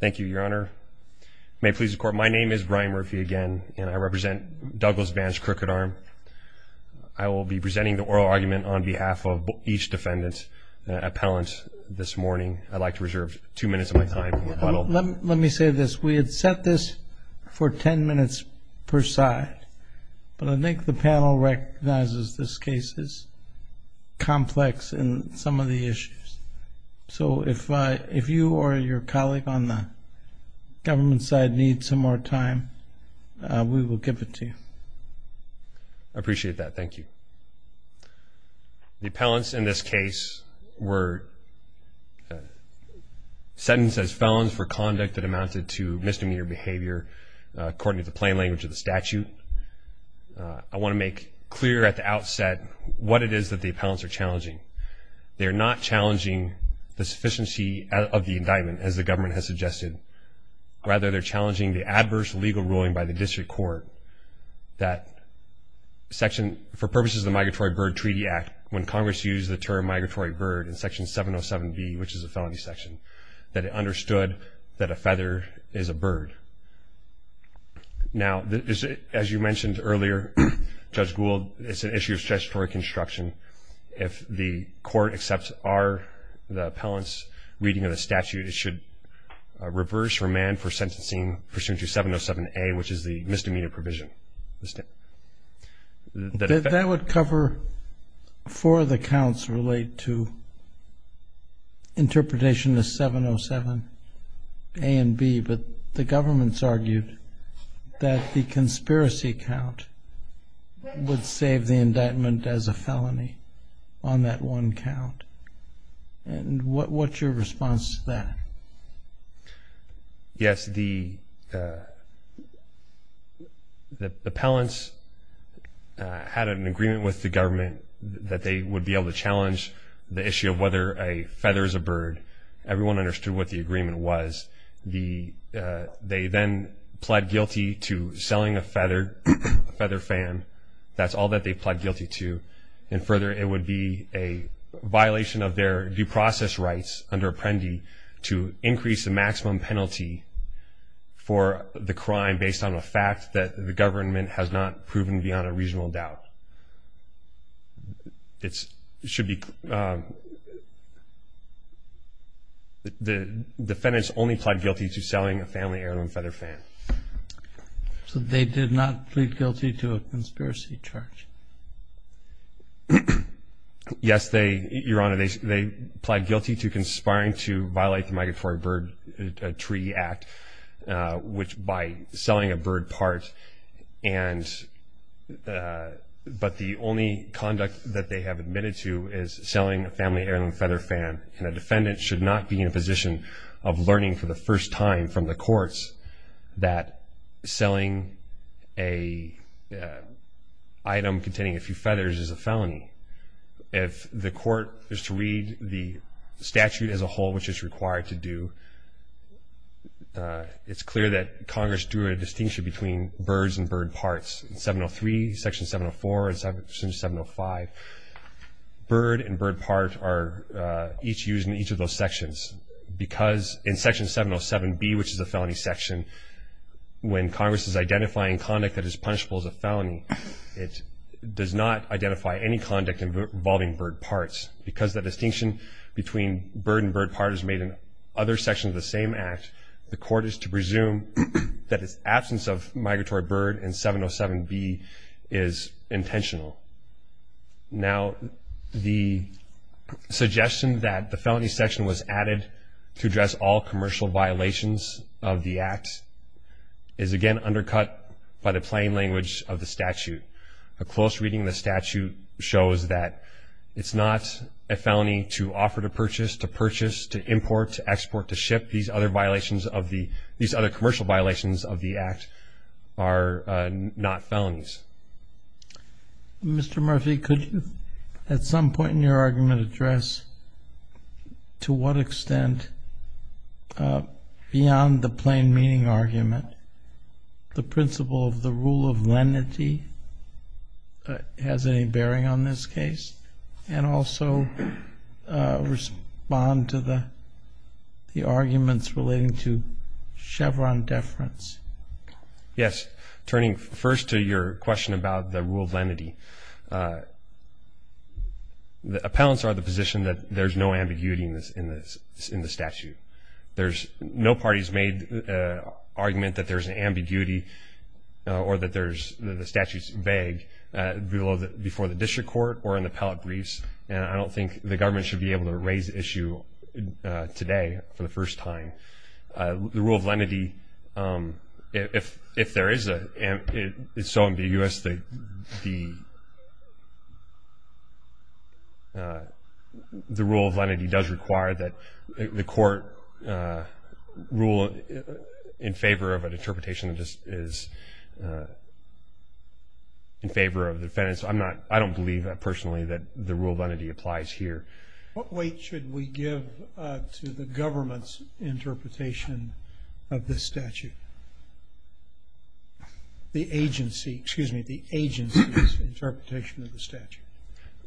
Thank you, Your Honor. May it please the Court, my name is Brian Murphy again, and I represent Douglas Vance Crooked Arm. I will be presenting the oral argument on behalf of each defendant's appellant this morning. I'd like to reserve two minutes of my time. Let me say this. We had set this for ten minutes per side, but I think the panel recognizes this case is complex in some of the issues. So if you or your colleague on the government side needs some more time, we will give it to you. I appreciate that. Thank you. The appellants in this case were sentenced as felons for conduct that amounted to misdemeanor behavior, according to the plain language of the statute. I want to make clear at the outset what it is that the appellants are challenging. They're not challenging the sufficiency of the indictment, as the government has suggested. Rather, they're challenging the adverse legal ruling by the district court that for purposes of the Migratory Bird Treaty Act, when Congress used the term migratory bird in Section 707B, which is a felony section, that it understood that a feather is a bird. Now, as you mentioned earlier, Judge Gould, it's an issue of statutory construction. If the court accepts our, the appellant's, reading of the statute, it should reverse remand for sentencing pursuant to 707A, which is the misdemeanor provision. That would cover four of the counts related to interpretation of 707A and B, but the government's argued that the conspiracy count would save the indictment as a felony on that one count. And what's your response to that? Yes, the appellants had an agreement with the government that they would be able to challenge the issue of whether a feather is a bird. Everyone understood what the agreement was. They then pled guilty to selling a feather fan. That's all that they pled guilty to. And further, it would be a violation of their due process rights under Apprendi to increase the maximum penalty for the crime based on the fact that the government has not proven beyond a reasonable doubt. It should be, the defendants only pled guilty to selling a family heirloom feather fan. So they did not plead guilty to a conspiracy charge? Yes, they, Your Honor, they pled guilty to conspiring to violate the Migratory Bird Treaty Act, which by selling a bird part, but the only conduct that they have admitted to is selling a family heirloom feather fan. And a defendant should not be in a position of learning for the first time from the courts that selling an item containing a few feathers is a felony. If the court is to read the statute as a whole, which it's required to do, it's clear that Congress drew a distinction between birds and bird parts. In 703, Section 704, and Section 705, bird and bird part are each used in each of those sections. Because in Section 707B, which is a felony section, when Congress is identifying conduct that is punishable as a felony, it does not identify any conduct involving bird parts. Because the distinction between bird and bird part is made in other sections of the same act, the court is to presume that its absence of migratory bird in 707B is intentional. Now, the suggestion that the felony section was added to address all commercial violations of the act is, again, undercut by the plain language of the statute. A close reading of the statute shows that it's not a felony to offer to purchase, to purchase, to import, to export, to ship. These other commercial violations of the act are not felonies. Mr. Murphy, could you, at some point in your argument, address to what extent, beyond the plain meaning argument, the principle of the rule of lenity has any bearing on this case, and also respond to the arguments relating to Chevron deference? Yes. Turning first to your question about the rule of lenity, the appellants are of the position that there's no ambiguity in the statute. There's no party's made argument that there's an ambiguity or that the statute's vague before the district court or in the appellate briefs, and I don't think the government should be able to raise the issue today for the first time. The rule of lenity, if there is a, it's so ambiguous, the rule of lenity does require that the court rule in favor of an interpretation that is in favor of the defendants. I'm not, I don't believe personally that the rule of lenity applies here. What weight should we give to the government's interpretation of this statute? The agency, excuse me, the agency's interpretation of the statute.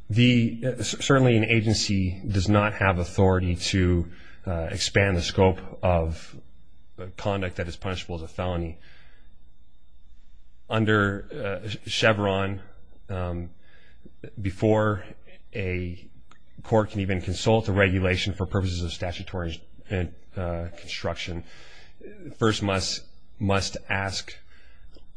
The, certainly an agency does not have authority to expand the scope of conduct that is punishable as a felony. Under Chevron, before a court can even consult a regulation for purposes of statutory construction, first must ask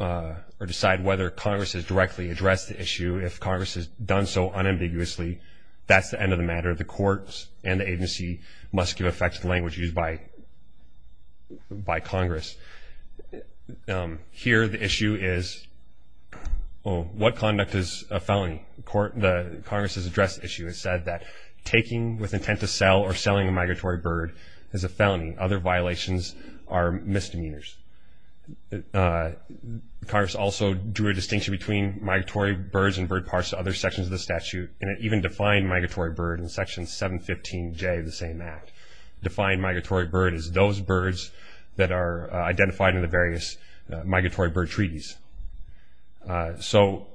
or decide whether Congress has directly addressed the issue. If Congress has done so unambiguously, that's the end of the matter. The courts and the agency must give effect to the language used by Congress. Here the issue is, well, what conduct is a felony? The Congress has addressed the issue. It said that taking with intent to sell or selling a migratory bird is a felony. Other violations are misdemeanors. Congress also drew a distinction between migratory birds and bird parts to other sections of the statute, and it even defined migratory bird in Section 715J of the same act. Defined migratory bird is those birds that are identified in the various migratory bird treaties. So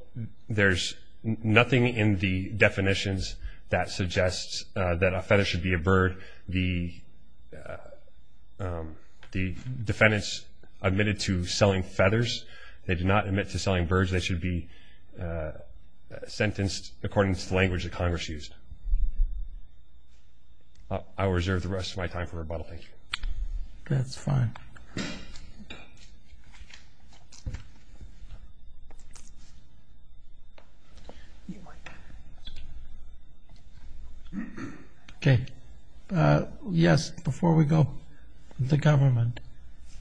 there's nothing in the definitions that suggests that a feather should be a bird. The defendants admitted to selling feathers. They did not admit to selling birds. They should be sentenced according to the language that Congress used. I'll reserve the rest of my time for rebuttal. Thank you. That's fine. Okay. Yes, before we go, the government.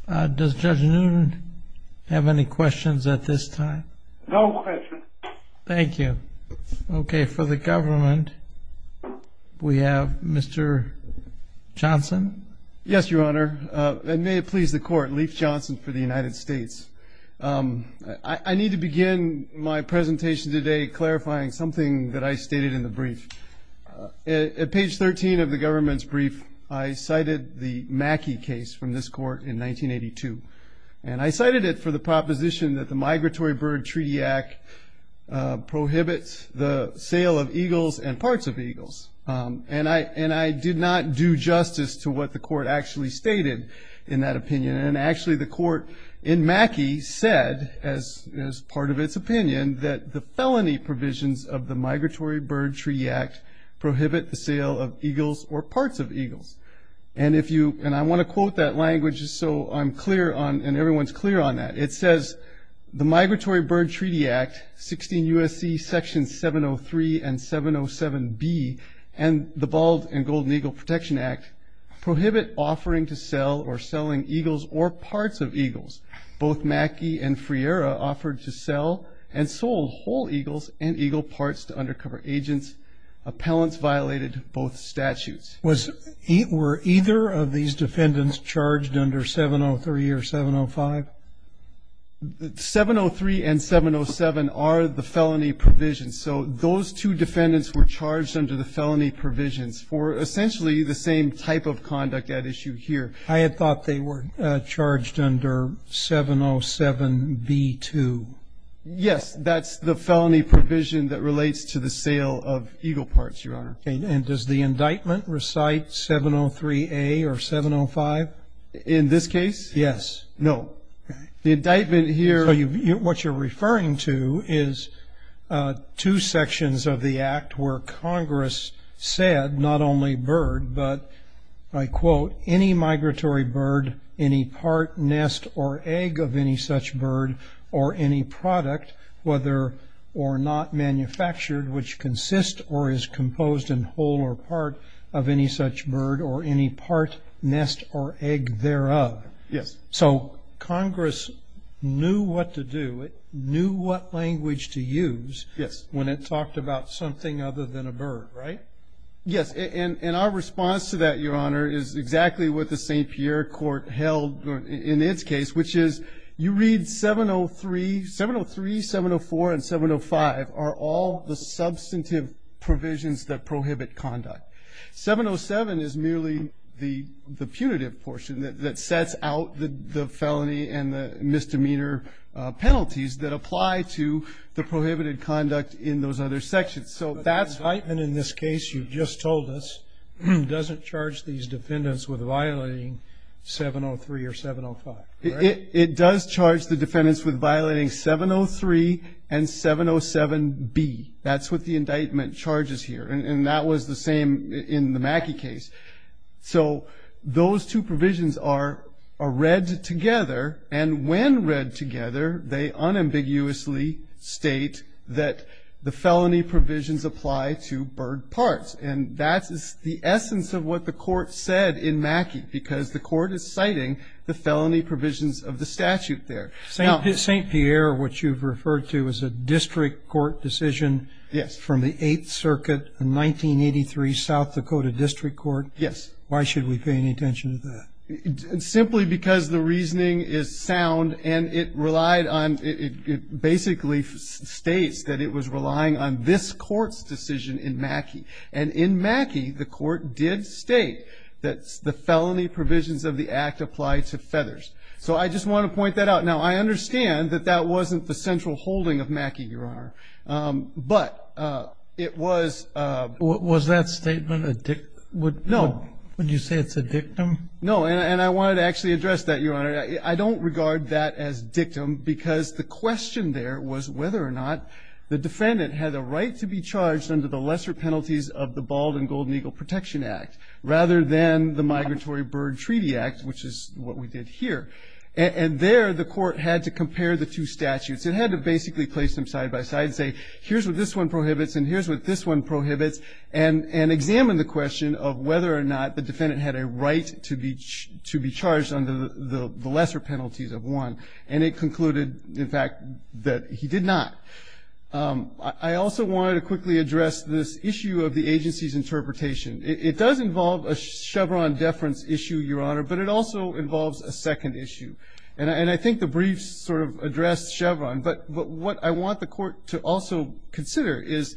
Does Judge Newton have any questions at this time? No questions. Thank you. Okay. For the government, we have Mr. Johnson. Yes, Your Honor, and may it please the Court, Leif Johnson for the United States. I need to begin my presentation today clarifying something that I stated in the brief. At page 13 of the government's brief, I cited the Mackey case from this court in 1982, and I cited it for the proposition that the Migratory Bird Treaty Act prohibits the sale of eagles and parts of eagles, and I did not do justice to what the court actually stated in that opinion, and actually the court in Mackey said, as part of its opinion, that the felony provisions of the Migratory Bird Treaty Act prohibit the sale of eagles or parts of eagles, and if you, and I want to quote that language just so I'm clear on, and everyone's clear on that. It says, the Migratory Bird Treaty Act, 16 U.S.C. Section 703 and 707B, and the Bald and Golden Eagle Protection Act prohibit offering to sell or selling eagles or parts of eagles. Both Mackey and Friera offered to sell and sold whole eagles and eagle parts to undercover agents. Appellants violated both statutes. Was, were either of these defendants charged under 703 or 705? 703 and 707 are the felony provisions, so those two defendants were charged under the felony provisions for essentially the same type of conduct at issue here. I had thought they were charged under 707B2. Yes, that's the felony provision that relates to the sale of eagle parts, Your Honor. And does the indictment recite 703A or 705? In this case? Yes. No. The indictment here. So you, what you're referring to is two sections of the act where Congress said, not only Bird, but I quote, any migratory bird, any part, nest, or egg of any such bird or any product, whether or not manufactured which consists or is composed in whole or part of any such bird or any part, nest, or egg thereof. Yes. So Congress knew what to do. It knew what language to use. Yes. When it talked about something other than a bird, right? Yes, and our response to that, Your Honor, is exactly what the St. Pierre court held in its case, which is you read 703, 703, 704, and 705 are all the substantive provisions that prohibit conduct. 707 is merely the punitive portion that sets out the felony and the misdemeanor penalties that apply to the prohibited conduct in those other sections. But the indictment in this case you just told us doesn't charge these defendants with violating 703 or 705, right? It does charge the defendants with violating 703 and 707B. That's what the indictment charges here, and that was the same in the Mackey case. So those two provisions are read together, and when read together, they unambiguously state that the felony provisions apply to bird parts, and that is the essence of what the court said in Mackey, because the court is citing the felony provisions of the statute there. St. Pierre, which you've referred to, is a district court decision from the Eighth Circuit, a 1983 South Dakota district court. Yes. Why should we pay any attention to that? Simply because the reasoning is sound, and it relied on ñ it basically states that it was relying on this court's decision in Mackey. And in Mackey, the court did state that the felony provisions of the act apply to feathers. So I just want to point that out. Now, I understand that that wasn't the central holding of Mackey, Your Honor, but it was ñ Was that statement a dictum? No. Would you say it's a dictum? No. And I wanted to actually address that, Your Honor. I don't regard that as dictum because the question there was whether or not the defendant had a right to be charged under the lesser penalties of the Bald and Golden Eagle Protection Act, rather than the Migratory Bird Treaty Act, which is what we did here. And there, the court had to compare the two statutes. It had to basically place them side by side and say, here's what this one prohibits and here's what this one prohibits, and examine the question of whether or not the defendant had a right to be charged under the lesser penalties of one. And it concluded, in fact, that he did not. I also wanted to quickly address this issue of the agency's interpretation. It does involve a Chevron deference issue, Your Honor, but it also involves a second issue. And I think the briefs sort of address Chevron. But what I want the court to also consider is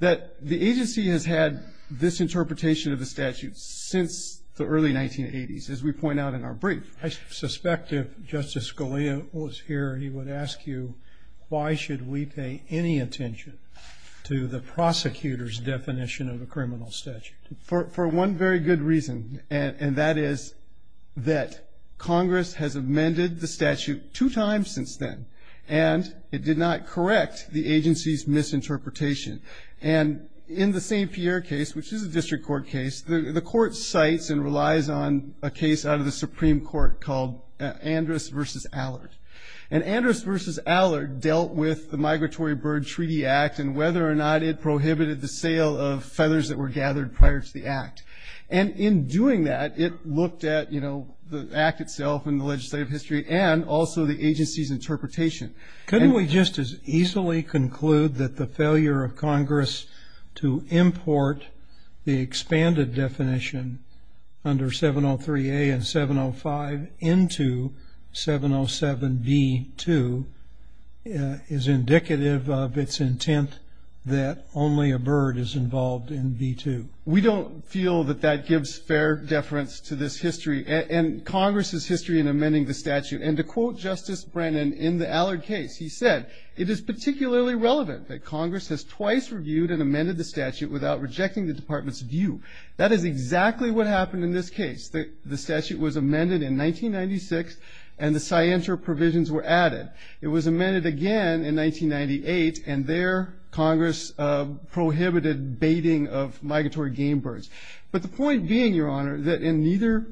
that the agency has had this interpretation of the statute since the early 1980s, as we point out in our brief. I suspect if Justice Scalia was here, he would ask you, why should we pay any attention to the prosecutor's definition of a criminal statute? For one very good reason, and that is that Congress has amended the statute two times since then. And it did not correct the agency's misinterpretation. And in the St. Pierre case, which is a district court case, the court cites and relies on a case out of the Supreme Court called Andrus v. Allard. And Andrus v. Allard dealt with the Migratory Bird Treaty Act and whether or not it prohibited the sale of feathers that were gathered prior to the act. And in doing that, it looked at, you know, the act itself and the legislative history and also the agency's interpretation. Couldn't we just as easily conclude that the failure of Congress to import the expanded definition under 703A and 705 into 707B2 is indicative of its intent that only a bird is involved in B2? We don't feel that that gives fair deference to this history. And Congress's history in amending the statute. And to quote Justice Brennan in the Allard case, he said, it is particularly relevant that Congress has twice reviewed and amended the statute without rejecting the department's view. That is exactly what happened in this case. The statute was amended in 1996, and the scienter provisions were added. It was amended again in 1998, and there Congress prohibited baiting of migratory game birds. But the point being, Your Honor, that in neither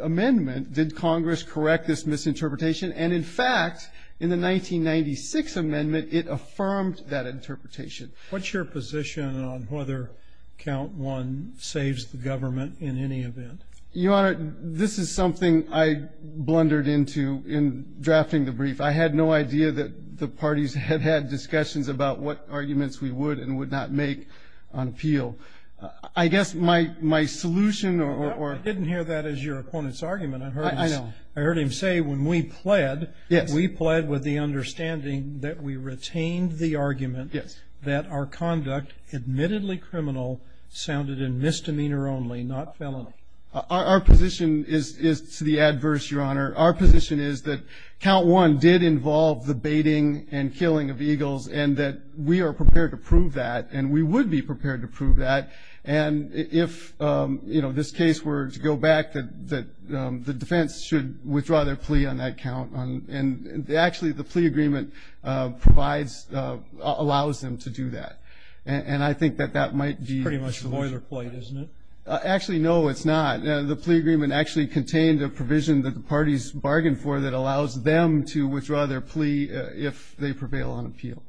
amendment did Congress correct this misinterpretation. And in fact, in the 1996 amendment, it affirmed that interpretation. What's your position on whether Count I saves the government in any event? Your Honor, this is something I blundered into in drafting the brief. I had no idea that the parties had had discussions about what arguments we would and would not make on appeal. I guess my solution or ‑‑ I didn't hear that as your opponent's argument. I heard him say when we pled, we pled with the understanding that we retained the argument that our conduct, admittedly criminal, sounded in misdemeanor only, not felony. Our position is to the adverse, Your Honor. Our position is that Count I did involve the baiting and killing of eagles and that we are prepared to prove that and we would be prepared to prove that. And if, you know, this case were to go back, the defense should withdraw their plea on that count. And actually, the plea agreement provides ‑‑ allows them to do that. And I think that that might be ‑‑ It's pretty much a boilerplate, isn't it? Actually, no, it's not. The plea agreement actually contained a provision that the parties bargained for that allows them to withdraw their plea if they prevail on appeal.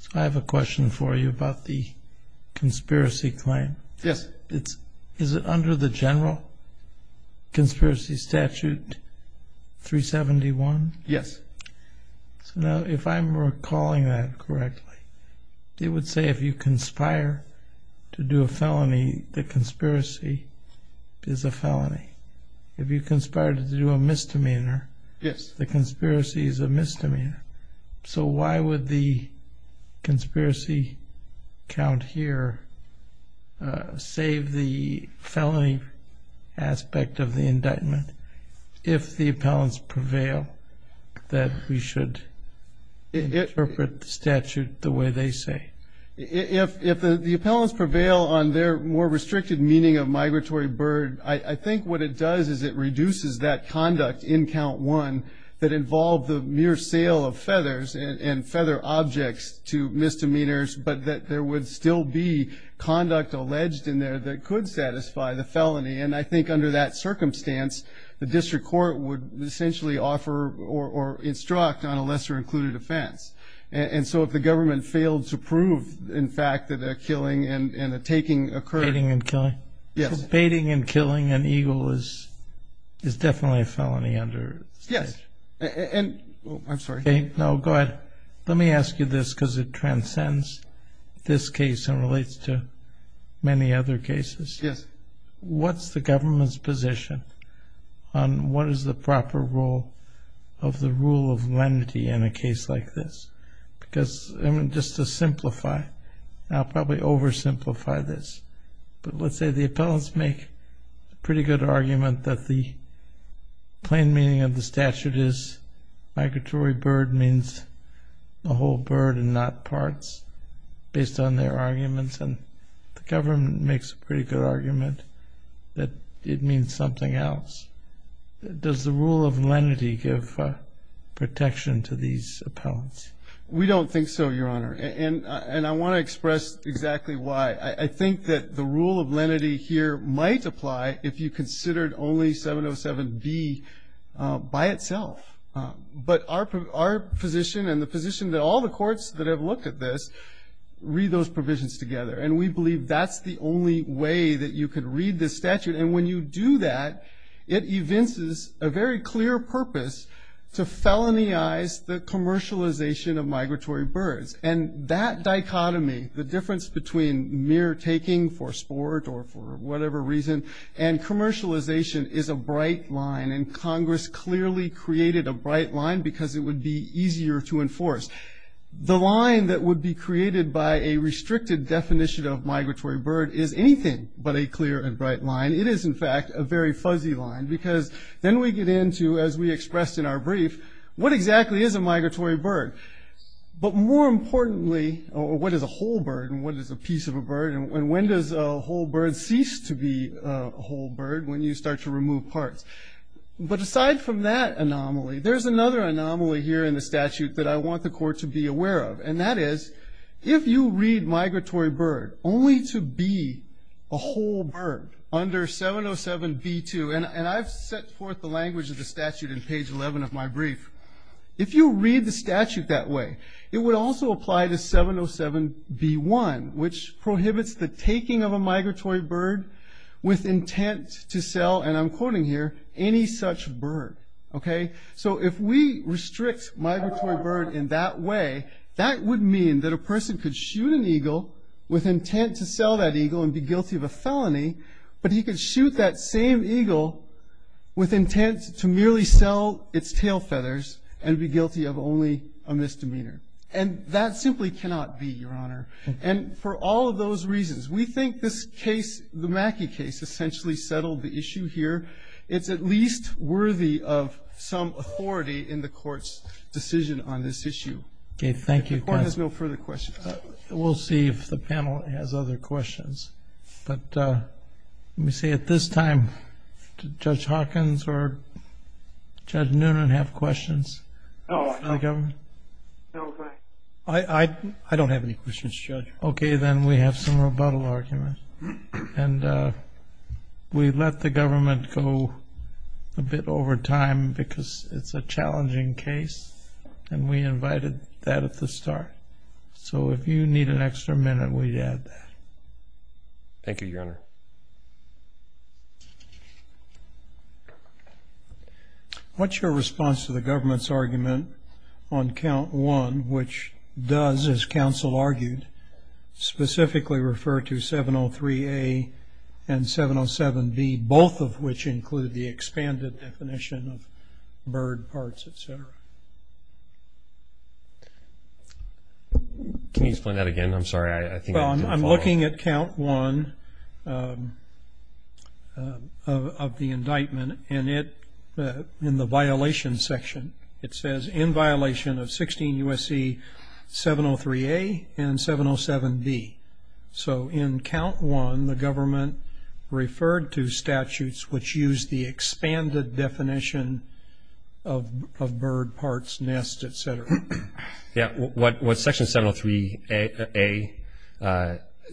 So I have a question for you about the conspiracy claim. Yes. Is it under the general conspiracy statute 371? Yes. So now if I'm recalling that correctly, it would say if you conspire to do a felony, the conspiracy is a felony. If you conspire to do a misdemeanor, the conspiracy is a misdemeanor. So why would the conspiracy count here save the felony aspect of the indictment if the appellants prevail that we should interpret the statute the way they say? If the appellants prevail on their more restricted meaning of migratory bird, I think what it does is it reduces that conduct in count one that involved the mere sale of feathers and feather objects to misdemeanors, but that there would still be conduct alleged in there that could satisfy the felony. And I think under that circumstance, the district court would essentially offer or instruct on a lesser included offense. And so if the government failed to prove, in fact, that a killing and a taking occurred. Baiting and killing? Yes. Baiting and killing an eagle is definitely a felony under the statute. Yes. I'm sorry. No, go ahead. Let me ask you this because it transcends this case and relates to many other cases. Yes. What's the government's position on what is the proper rule of the rule of lenity in a case like this? Because just to simplify, and I'll probably oversimplify this, but let's say the appellants make a pretty good argument that the plain meaning of the statute is migratory bird means a whole bird and not parts based on their arguments, and the government makes a pretty good argument that it means something else. Does the rule of lenity give protection to these appellants? We don't think so, Your Honor, and I want to express exactly why. I think that the rule of lenity here might apply if you considered only 707B by itself. But our position and the position that all the courts that have looked at this read those provisions together, and we believe that's the only way that you could read this statute. And when you do that, it evinces a very clear purpose to felonyize the commercialization of migratory birds. And that dichotomy, the difference between mere taking for sport or for whatever reason, and commercialization is a bright line, and Congress clearly created a bright line because it would be easier to enforce. The line that would be created by a restricted definition of migratory bird is anything but a clear and bright line. It is, in fact, a very fuzzy line because then we get into, as we expressed in our brief, what exactly is a migratory bird? But more importantly, what is a whole bird and what is a piece of a bird, and when does a whole bird cease to be a whole bird when you start to remove parts? But aside from that anomaly, there's another anomaly here in the statute that I want the Court to be aware of, and that is if you read migratory bird only to be a whole bird under 707B2, and I've set forth the language of the statute in page 11 of my brief, if you read the statute that way, it would also apply to 707B1, which prohibits the taking of a migratory bird with intent to sell, and I'm quoting here, any such bird. So if we restrict migratory bird in that way, that would mean that a person could shoot an eagle with intent to sell that eagle and be guilty of a felony, but he could shoot that same eagle with intent to merely sell its tail feathers and be guilty of only a misdemeanor, and that simply cannot be, Your Honor. And for all of those reasons, we think this case, the Mackey case, essentially settled the issue here. It's at least worthy of some authority in the Court's decision on this issue. Okay, thank you. The Court has no further questions. We'll see if the panel has other questions, but let me say at this time, did Judge Hawkins or Judge Noonan have questions for the government? No, I don't have any questions, Judge. Okay, then we have some rebuttal arguments, and we let the government go a bit over time because it's a challenging case, and we invited that at the start. So if you need an extra minute, we'd add that. Thank you, Your Honor. What's your response to the government's argument on Count 1, which does, as counsel argued, specifically refer to 703A and 707B, both of which include the expanded definition of bird parts, et cetera? Can you explain that again? I'm sorry, I think I didn't follow. Well, I'm looking at Count 1 of the indictment, and in the violation section, it says, in violation of 16 U.S.C. 703A and 707B. So in Count 1, the government referred to statutes which use the expanded definition of bird parts, nest, et cetera. Yeah, what Section 703A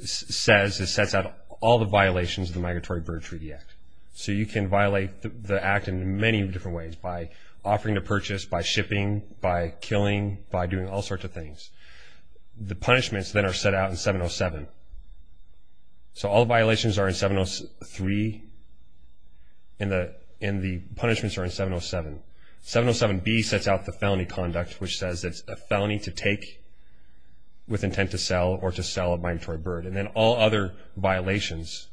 says, it sets out all the violations of the Migratory Bird Treaty Act. So you can violate the act in many different ways, by offering to purchase, by shipping, by killing, by doing all sorts of things. The punishments then are set out in 707. So all violations are in 703, and the punishments are in 707. 707B sets out the felony conduct, which says it's a felony to take with intent to sell or to sell a migratory bird. And then all other violations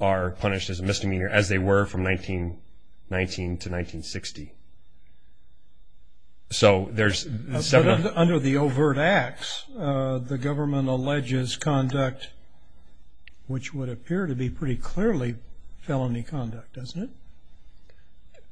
are punished as a misdemeanor, as they were from 1919 to 1960. So there's 707. But under the overt acts, the government alleges conduct which would appear to be pretty clearly felony conduct, doesn't it?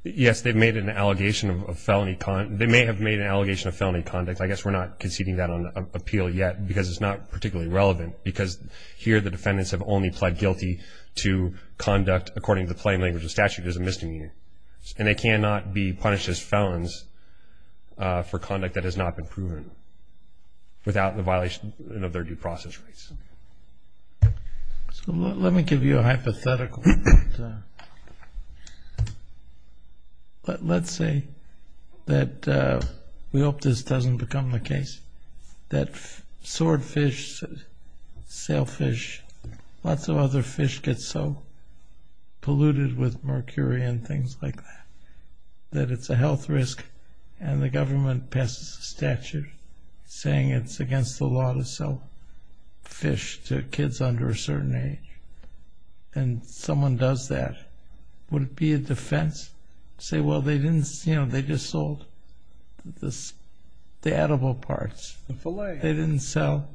Yes, they've made an allegation of felony conduct. They may have made an allegation of felony conduct. I guess we're not conceding that on appeal yet, because it's not particularly relevant, because here the defendants have only pled guilty to conduct, according to the plain language of statute, as a misdemeanor. And they cannot be punished as felons for conduct that has not been proven without the violation of their due process rights. So let me give you a hypothetical. Let's say that we hope this doesn't become the case, that swordfish, sailfish, lots of other fish get so polluted with mercury and things like that that it's a health risk. And the government passes a statute saying it's against the law to sell fish to kids under a certain age. And someone does that. Would it be a defense to say, well, they just sold the edible parts? The fillet. They didn't sell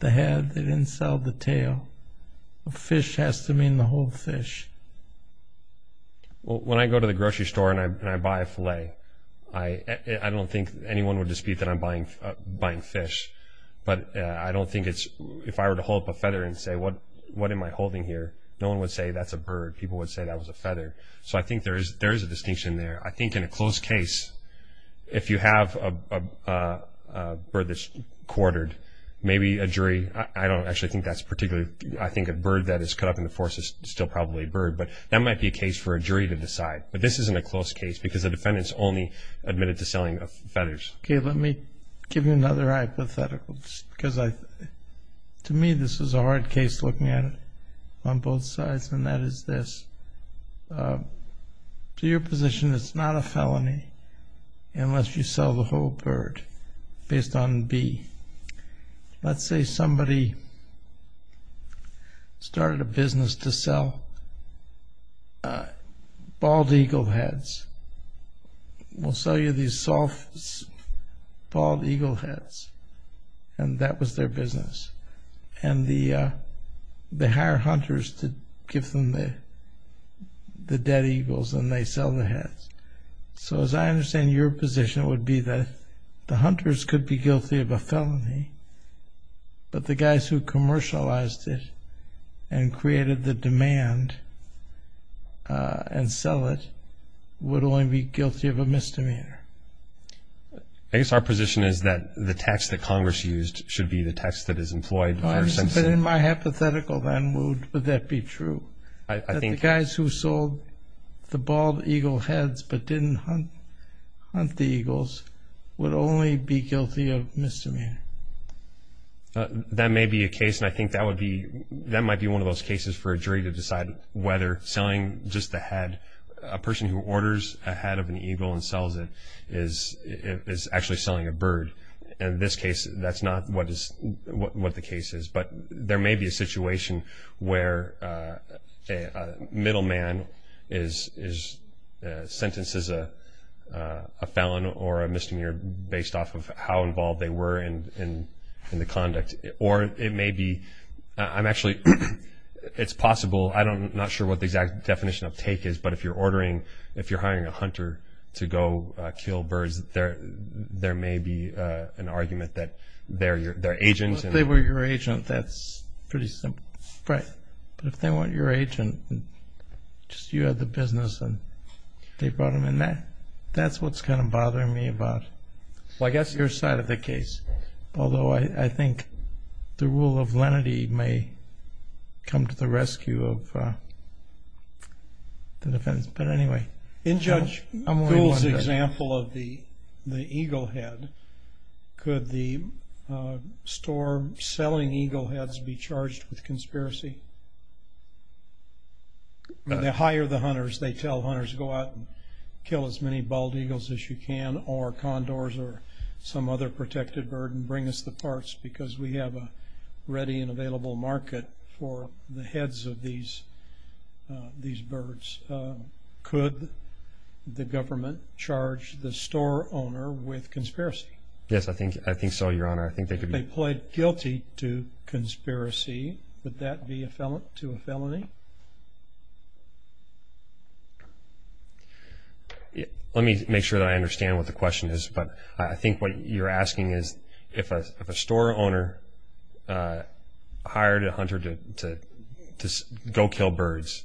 the head. They didn't sell the tail. The fish has to mean the whole fish. When I go to the grocery store and I buy a fillet, I don't think anyone would dispute that I'm buying fish. But I don't think if I were to hold up a feather and say, what am I holding here, no one would say that's a bird. People would say that was a feather. So I think there is a distinction there. I think in a close case, if you have a bird that's quartered, maybe a jury. I don't actually think that's particularly – I think a bird that is cut up in the forest is still probably a bird. But that might be a case for a jury to decide. But this isn't a close case because the defendant's only admitted to selling feathers. Okay, let me give you another hypothetical. Because to me this is a hard case looking at it on both sides, and that is this. To your position, it's not a felony unless you sell the whole bird based on B. Let's say somebody started a business to sell bald eagle heads. We'll sell you these bald eagle heads. And that was their business. And they hire hunters to give them the dead eagles, and they sell the heads. So as I understand your position, it would be that the hunters could be guilty of a felony, but the guys who commercialized it and created the demand and sell it would only be guilty of a misdemeanor. I guess our position is that the text that Congress used should be the text that is employed. In my hypothetical then, would that be true? I think – That the guys who sold the bald eagle heads but didn't hunt the eagles would only be guilty of misdemeanor. That may be a case, and I think that would be – that might be one of those cases for a jury to decide whether selling just the head, a person who orders a head of an eagle and sells it, is actually selling a bird. In this case, that's not what the case is. But there may be a situation where a middleman sentences a felon or a misdemeanor based off of how involved they were in the conduct. Or it may be – I'm actually – it's possible. I'm not sure what the exact definition of take is, but if you're ordering – if you're hiring a hunter to go kill birds, there may be an argument that they're agents. If they were your agent, that's pretty simple. Right. But if they weren't your agent, just you had the business and they brought them in there, that's what's kind of bothering me about your side of the case. Although I think the rule of lenity may come to the rescue of the defense. But anyway. In Judge Gould's example of the eagle head, could the store selling eagle heads be charged with conspiracy? When they hire the hunters, they tell hunters, go out and kill as many bald eagles as you can or condors or some other protected bird and bring us the parts because we have a ready and available market for the heads of these birds. Could the government charge the store owner with conspiracy? Yes, I think so, Your Honor. If they pled guilty to conspiracy, would that be to a felony? Let me make sure that I understand what the question is, but I think what you're asking is if a store owner hired a hunter to go kill birds,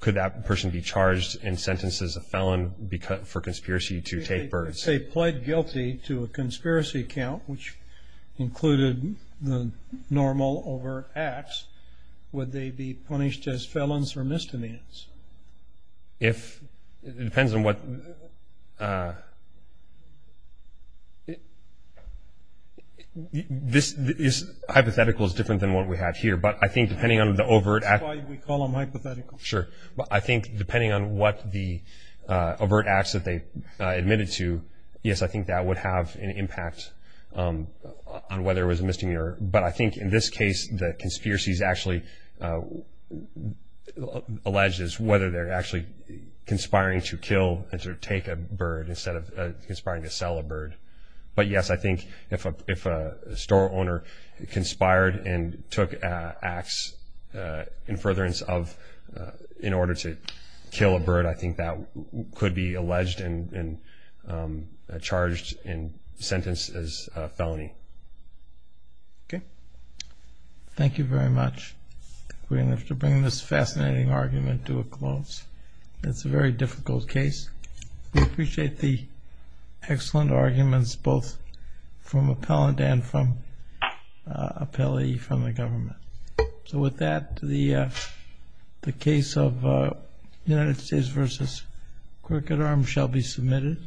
could that person be charged and sentenced as a felon for conspiracy to take birds? If they pled guilty to a conspiracy count, which included the normal overt acts, would they be punished as felons or misdemeanors? It depends on what – hypothetical is different than what we have here, but I think depending on the overt act – That's why we call them hypothetical. I think depending on what the overt acts that they admitted to, yes, I think that would have an impact on whether it was a misdemeanor. But I think in this case, the conspiracy is actually alleged as whether they're actually conspiring to kill or take a bird But yes, I think if a store owner conspired and took acts in furtherance of in order to kill a bird, I think that could be alleged and charged and sentenced as a felony. Okay. Thank you very much. We have to bring this fascinating argument to a close. It's a very difficult case. We appreciate the excellent arguments both from appellant and from appellee from the government. So with that, the case of United States v. Crooked Arms shall be submitted.